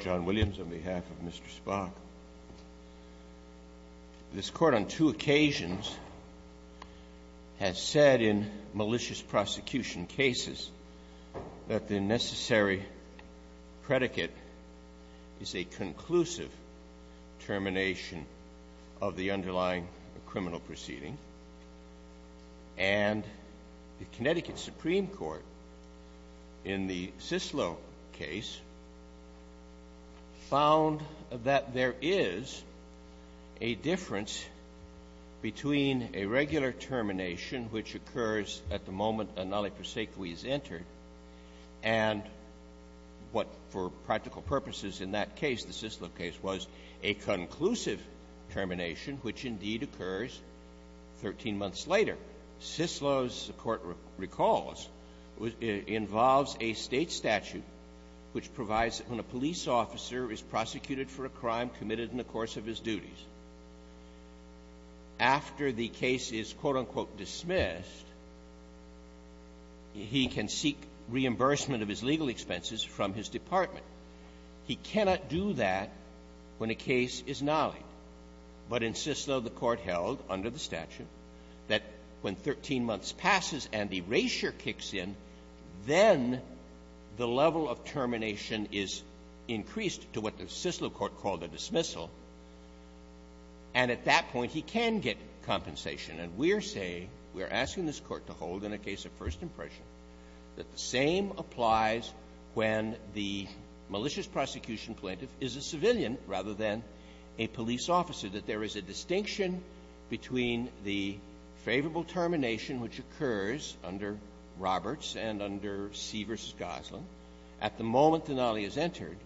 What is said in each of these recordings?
John Williams, on behalf of Mr. Spak, this Court on two occasions has said in malicious prosecution cases that the necessary predicate is a conclusive termination of the underlying criminal proceeding. And the Connecticut Supreme Court, in the Cicillo case, found that there is a difference between a regular termination, which occurs at the moment a nulla prosequi is entered, and what, for practical purposes in that case, the Cicillo case, was a conclusive termination, which indeed occurs 13 months later. Cicillo's, the Court recalls, involves a State statute which provides that when a police After the case is, quote, unquote, dismissed, he can seek reimbursement of his legal expenses from his department. He cannot do that when a case is nullied. But in Cicillo, the Court held, under the statute, that when 13 months passes and the erasure kicks in, then the level of termination is increased to what the Cicillo Court called a dismissal. And at that point, he can get compensation. And we're saying, we're asking this Court to hold in a case of first impression that the same applies when the malicious prosecution plaintiff is a civilian rather than a police officer, that there is a distinction between the favorable termination, which occurs under Roberts and under C v. Gosling, at the moment the nolly is entered,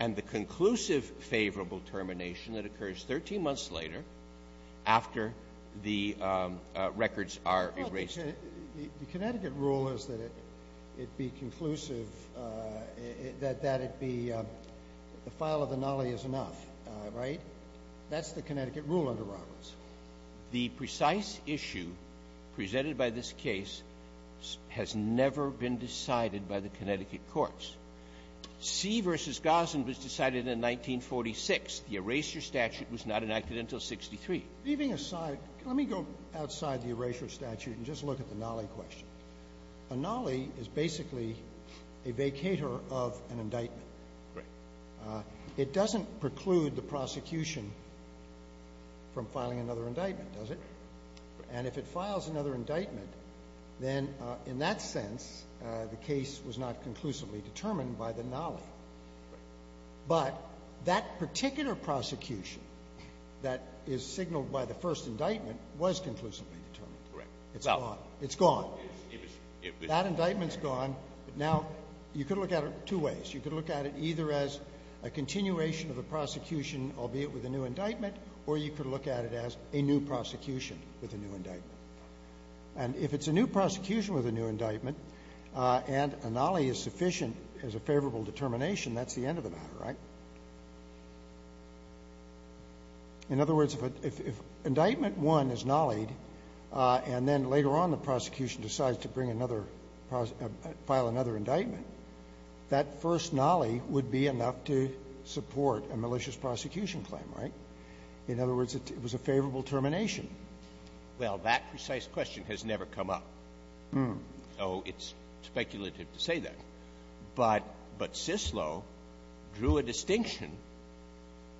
and the conclusive favorable termination that occurs 13 months later after the records are erased. Well, the Connecticut rule is that it be conclusive, that it be the file of the nolly is enough, right? That's the Connecticut rule under Roberts. The precise issue presented by this case has never been decided by the Connecticut courts. C v. Gosling was decided in 1946. The erasure statute was not enacted until 63. Leaving aside, let me go outside the erasure statute and just look at the nolly question. A nolly is basically a vacator of an indictment. Right. It doesn't preclude the prosecution from filing another indictment, does it? And if it files another indictment, then in that sense, the case was not conclusive determined by the nolly. Right. But that particular prosecution that is signaled by the first indictment was conclusively determined. Correct. It's gone. It's gone. That indictment's gone. Now, you could look at it two ways. You could look at it either as a continuation of a prosecution, albeit with a new indictment, or you could look at it as a new prosecution with a new indictment. And if it's a new prosecution with a new indictment and a nolly is sufficient as a favorable determination, that's the end of the matter, right? In other words, if an indictment 1 is nollied and then later on the prosecution decides to bring another prosecution, file another indictment, that first nolly would be enough to support a malicious prosecution claim, right? In other words, it was a favorable termination. Well, that precise question has never come up. Oh, it's speculative to say that. But Cicillo drew a distinction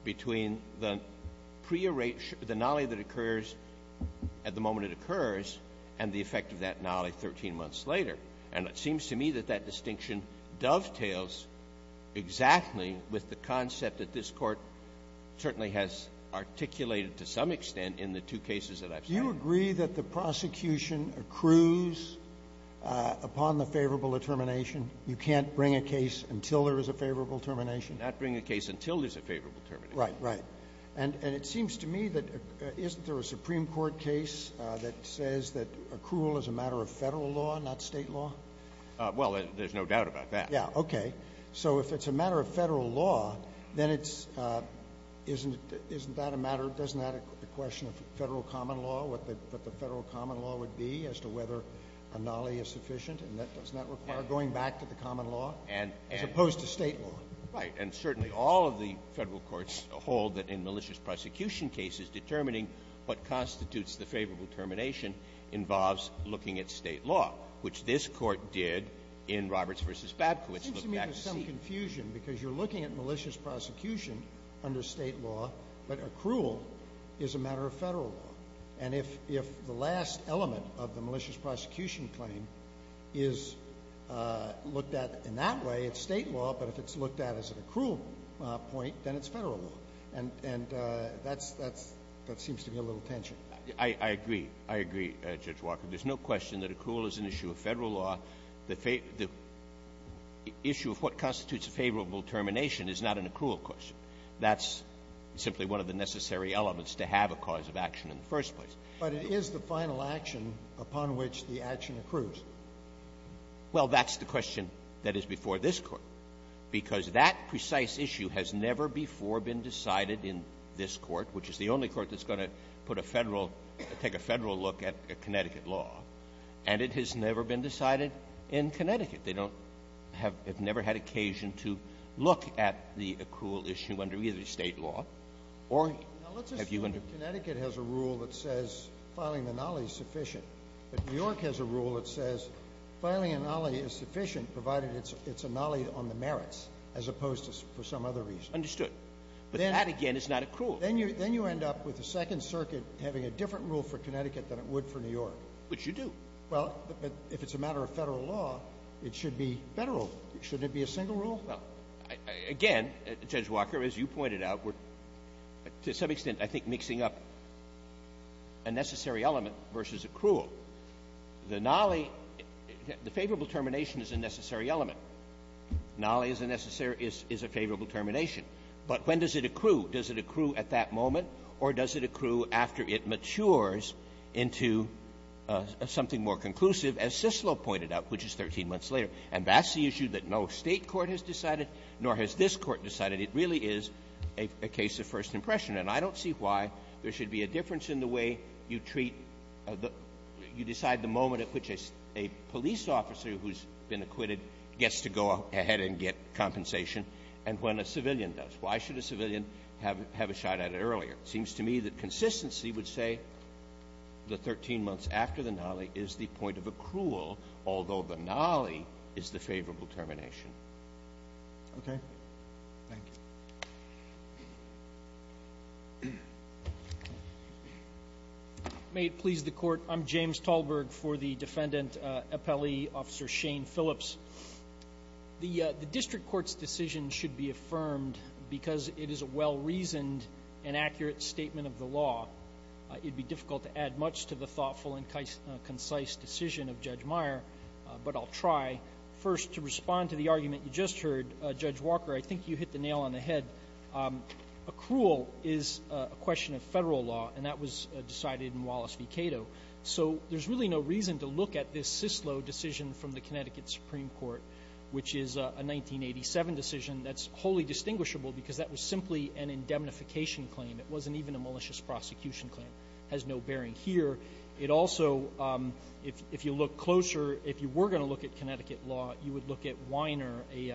between the prearranged, the nolly that occurs at the moment it occurs and the effect of that nolly 13 months later. And it seems to me that that distinction dovetails exactly with the concept that this case is a favorable termination. And I think that's the basis of the case that I've cited. Do you agree that the prosecution accrues upon the favorable determination? You can't bring a case until there is a favorable termination? Not bring a case until there's a favorable termination. Right, right. And it seems to me that isn't there a Supreme Court case that says that accrual is a matter of Federal law, not State law? Well, there's no doubt about that. Yeah, okay. So if it's a matter of Federal law, then it's — isn't that a matter — doesn't that question of Federal common law, what the Federal common law would be as to whether a nolly is sufficient? And doesn't that require going back to the common law as opposed to State law? Right. And certainly all of the Federal courts hold that in malicious prosecution cases, determining what constitutes the favorable termination involves looking at State law, which this Court did in Roberts v. Babkowitz. It seems to me there's some confusion because you're looking at malicious prosecution under State law, but accrual is a matter of Federal law. And if — if the last element of the malicious prosecution claim is looked at in that way, it's State law, but if it's looked at as an accrual point, then it's Federal law. And — and that's — that's — that seems to be a little tension. I — I agree. I agree, Judge Walker. There's no question that accrual is an issue of Federal law. The issue of what constitutes a favorable termination is not an accrual question. That's simply one of the necessary elements to have a cause of action in the first place. But it is the final action upon which the action accrues. Well, that's the question that is before this Court, because that precise issue has never before been decided in this Court, which is the only court that's going to put a Federal — take a Federal look at Connecticut law. And it has never been decided in Connecticut. They don't have — have never had occasion to look at the accrual issue under either State law or — Now, let's assume that Connecticut has a rule that says filing a nollie is sufficient. If New York has a rule that says filing a nollie is sufficient, provided it's — it's a nollie on the merits, as opposed to for some other reason. Understood. But that, again, is not accrual. Then you — then you end up with the Second Circuit having a different rule for Connecticut than it would for New York. Which you do. Well, but if it's a matter of Federal law, it should be Federal. Shouldn't it be a single rule? Well, again, Judge Walker, as you pointed out, we're, to some extent, I think, mixing up a necessary element versus accrual. The nollie — the favorable termination is a necessary element. Nollie is a necessary — is a favorable termination. But when does it accrue? Does it accrue at that moment, or does it accrue after it matures into something more conclusive, as Cicillo pointed out, which is 13 months later? And that's the issue that no State court has decided, nor has this Court decided. It really is a case of first impression. And I don't see why there should be a difference in the way you treat the — you decide the moment at which a police officer who's been acquitted gets to go ahead and get compensation and when a civilian does. Why should a civilian have a shot at it earlier? It seems to me that consistency would say the 13 months after the nollie is the point of accrual, although the nollie is the favorable termination. Roberts. Okay. Thank you. May it please the Court. I'm James Talberg for the Defendant Appellee Officer Shane Phillips. The District Court's decision should be affirmed because it is a well-reasoned and accurate statement of the law. It'd be difficult to add much to the thoughtful and concise decision of Judge Meyer, but I'll try. First, to respond to the argument you just heard, Judge Walker, I think you hit the nail on the head. Accrual is a question of federal law, and that was decided in Wallace v. Cato. So there's really no reason to look at this Cicillo decision from the Connecticut Supreme Court, which is a 1987 decision that's wholly distinguishable because that was simply an indemnification claim. It wasn't even a malicious prosecution claim. Has no bearing here. It also, if you look closer, if you were going to look at Connecticut law, you would look at Weiner, a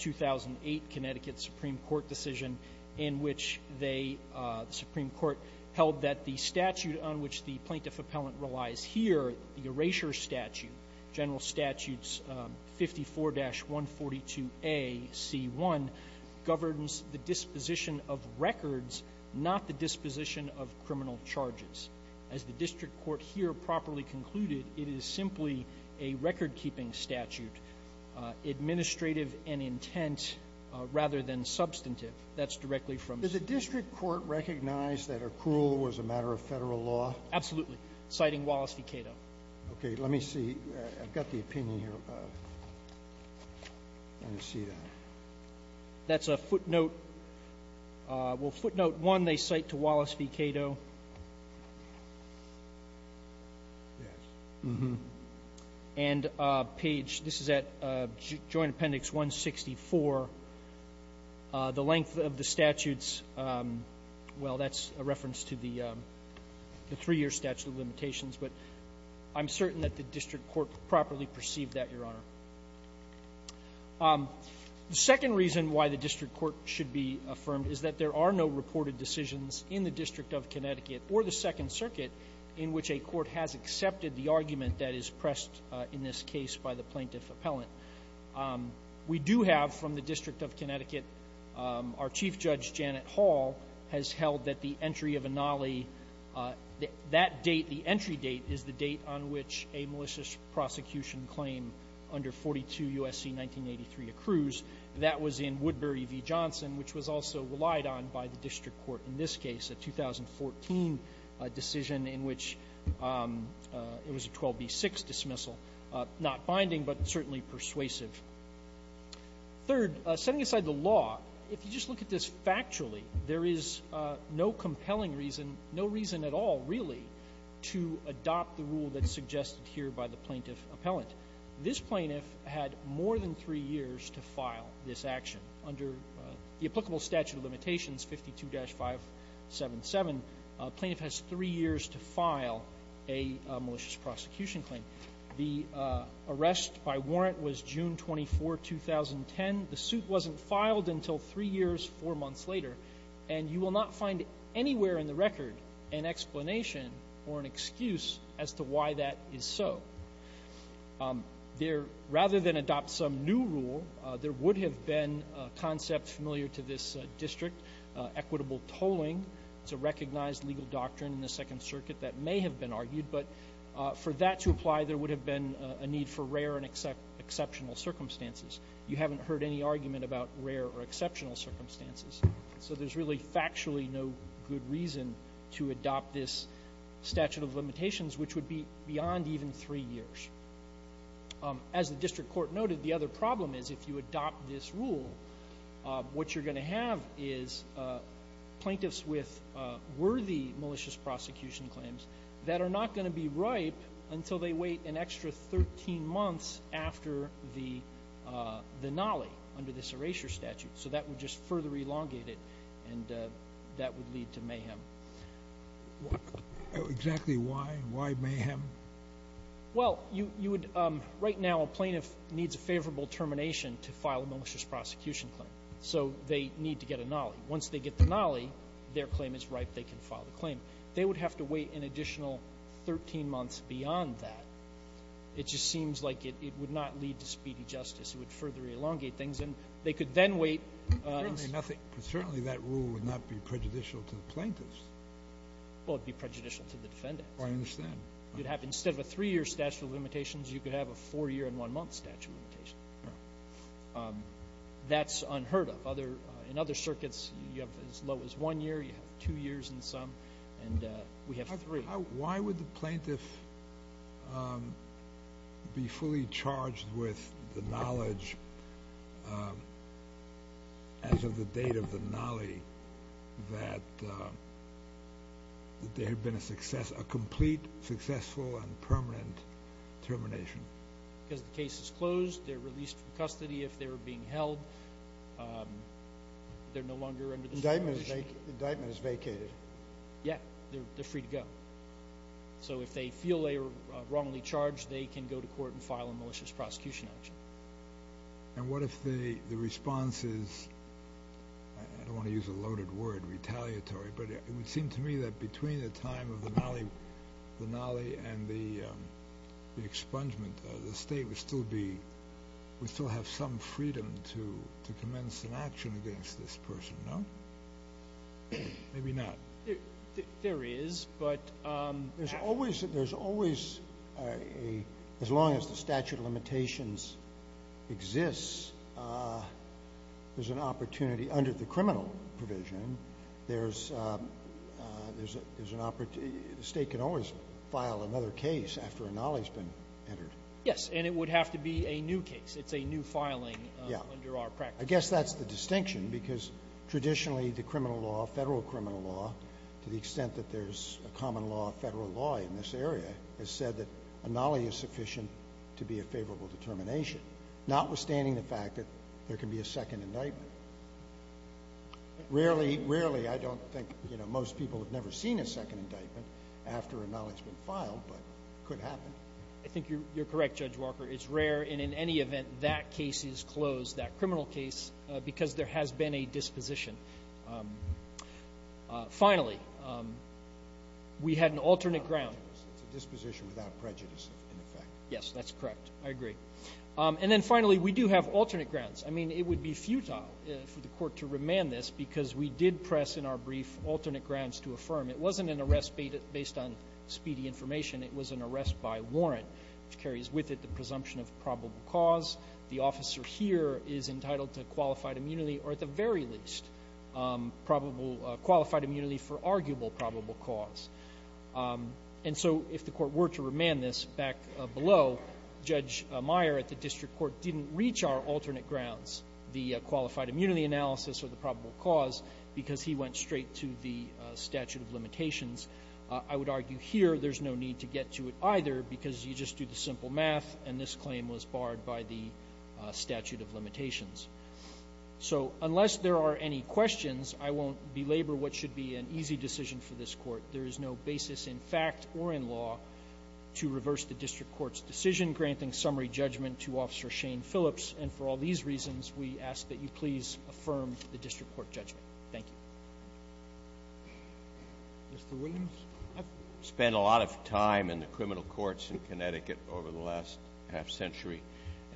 2008 Connecticut Supreme Court decision in which they, the Supreme Court, held that the statute on which the plaintiff appellant relies here, the 54-142AC1, governs the disposition of records, not the disposition of criminal charges. As the district court here properly concluded, it is simply a record-keeping statute, administrative and intent rather than substantive. That's directly from the district court recognized that accrual was a matter of federal law? Absolutely. Citing Wallace v. Cato. Okay. Let me see. I've got the opinion here. Let me see that. That's a footnote. Well, footnote one, they cite to Wallace v. Cato. Yes. And page, this is at Joint Appendix 164, the length of the statutes. Well, that's a reference to the three-year statute of limitations. But I'm certain that the district court properly perceived that, Your Honor. The second reason why the district court should be affirmed is that there are no reported decisions in the District of Connecticut or the Second Circuit in which a court has accepted the argument that is pressed in this case by the plaintiff appellant. We do have, from the District of Connecticut, our Chief Judge, Janet Hall, has held that the entry of a nollie, that date, the entry date, is the date on which a malicious prosecution claim under 42 U.S.C. 1983 accrues. That was in Woodbury v. Johnson, which was also relied on by the district court in this case, a 2014 decision in which it was a 12b-6 dismissal, not binding, but certainly persuasive. Third, setting aside the law, if you just look at this factually, there is no evidence or no compelling reason, no reason at all, really, to adopt the rule that's suggested here by the plaintiff appellant. This plaintiff had more than three years to file this action. Under the applicable statute of limitations, 52-577, a plaintiff has three years to file a malicious prosecution claim. The arrest by warrant was June 24, 2010. The suit wasn't filed until three years, four months later, and you will not find anywhere in the record an explanation or an excuse as to why that is so. Rather than adopt some new rule, there would have been a concept familiar to this district, equitable tolling. It's a recognized legal doctrine in the Second Circuit that may have been argued, but for that to apply, there would have been a need for rare and exceptional circumstances. You haven't heard any argument about rare or exceptional circumstances. So there's really factually no good reason to adopt this statute of limitations, which would be beyond even three years. As the district court noted, the other problem is if you adopt this rule, what you're going to have is plaintiffs with worthy malicious prosecution claims that are not going to be ripe until they wait an extra 13 months after the nolley under this erasure statute. So that would just further elongate it, and that would lead to mayhem. Exactly why? Why mayhem? Well, you would, right now a plaintiff needs a favorable termination to file a malicious prosecution claim. So they need to get a nolley. Once they get the nolley, their claim is ripe, they can file the claim. They would have to wait an additional 13 months beyond that. It just seems like it would not lead to speedy justice. It would further elongate things. And they could then wait. Certainly nothing — certainly that rule would not be prejudicial to the plaintiffs. Well, it would be prejudicial to the defendant. I understand. You'd have — instead of a three-year statute of limitations, you could have a four-year and one-month statute of limitations. Right. That's unheard of. Other — in other circuits, you have as low as one year, you have two years in some. And we have three. How — why would the plaintiff be fully charged with the knowledge, as of the date of the nolley, that there had been a success — a complete, successful, and permanent termination? Because the case is closed, they're released from custody if they were being held, they're no longer under the jurisdiction. The indictment is vacated. Yeah, they're free to go. So if they feel they were wrongly charged, they can go to court and file a malicious prosecution action. And what if the response is — I don't want to use a loaded word, retaliatory — but it would seem to me that between the time of the nolley and the expungement, the State would still be — would still have some freedom to commence an action against this person, no? Maybe not. There is, but — There's always a — as long as the statute of limitations exists, there's an opportunity — under the criminal provision, there's an — the State can always file another case after a nolley's been entered. Yes. And it would have to be a new case. It's a new filing under our practice. Yeah. I guess that's the distinction, because traditionally the criminal law, Federal criminal law, to the extent that there's a common law, Federal law in this area, has said that a nolley is sufficient to be a favorable determination, notwithstanding the fact that there can be a second indictment. Rarely — rarely, I don't think — you know, most people have never seen a second indictment after a nolley's been filed, but it could happen. I think you're correct, Judge Walker. It's rare, and in any event, that case is closed, that criminal case, because there has been a disposition. Finally, we had an alternate ground — It's a disposition without prejudice, in effect. Yes, that's correct. I agree. And then finally, we do have alternate grounds. I mean, it would be futile for the Court to remand this, because we did press in our brief alternate grounds to affirm. It wasn't an arrest based on speedy information. It was an arrest by warrant, which carries with it the presumption of probable cause. The officer here is entitled to qualified immunity, or at the very least, probable — qualified immunity for arguable probable cause. And so if the Court were to remand this back below, Judge Meyer at the District Court didn't reach our alternate grounds, the qualified immunity analysis or the probable cause, because he went straight to the statute of limitations. I would argue here there's no need to get to it either, because you just do the simple math, and this claim was barred by the statute of limitations. So unless there are any questions, I won't belabor what should be an easy decision for this Court. There is no basis in fact or in law to reverse the District Court's decision granting summary judgment to Officer Shane Phillips. And for all these reasons, we ask that you please affirm the District Court judgment. Thank you. Mr. Williams? I've spent a lot of time in the criminal courts in Connecticut over the last half-century,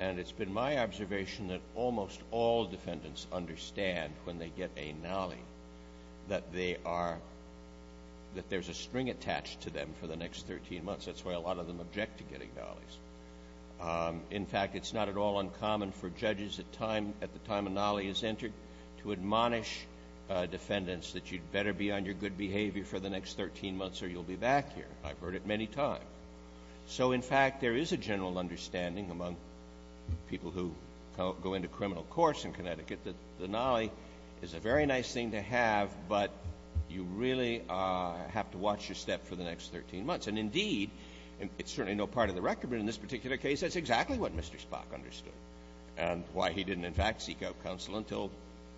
and it's been my observation that almost all defendants understand when they get a nollie that they are — that there's a string attached to them for the next 13 months. That's why a lot of them object to getting nollies. In fact, it's not at all uncommon for judges at the time a nollie is entered to admonish defendants that you'd better be on your good behavior for the next 13 months or you'll be back here. I've heard it many times. So in fact, there is a general understanding among people who go into criminal courts in Connecticut that the nollie is a very nice thing to have, but you really have to watch your step for the next 13 months. And indeed, it's certainly no part of the record, but in this particular case, that's exactly what Mr. Spock understood and why he didn't in fact seek out counsel until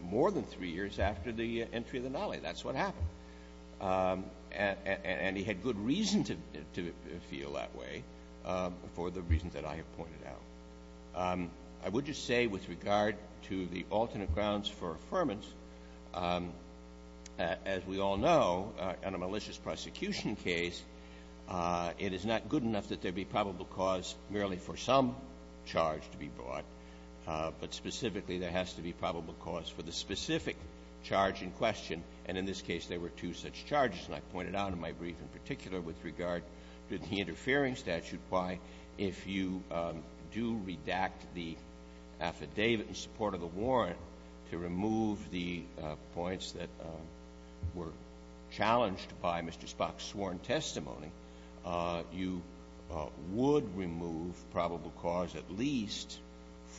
more than three years after the entry of the nollie. That's what happened. And he had good reason to feel that way for the reasons that I have pointed out. I would just say with regard to the alternate grounds for affirmance, as we all know, in a malicious prosecution case, it is not good enough that there would be probable cause merely for some charge to be brought, but specifically there has to be probable cause for the specific charge in question. And in this case, there were two such charges. And I pointed out in my brief in particular with regard to the interfering statute why, if you do redact the affidavit in support of the warrant to remove the points that were challenged by Mr. Spock's sworn testimony, you would remove probable cause at least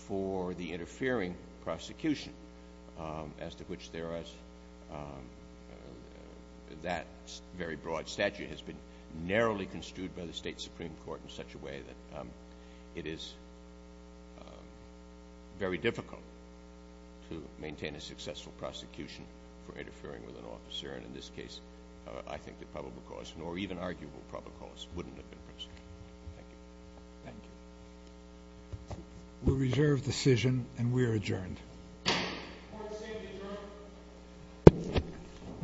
for the interfering prosecution as to which that very broad statute has been narrowly construed by the State Supreme Court in such a way that it is very difficult to maintain a successful prosecution for interfering with an officer. In this case, I think the probable cause, or even arguable probable cause, wouldn't have been prosecuted. Thank you. Thank you. We reserve decision and we are adjourned. Court is adjourned.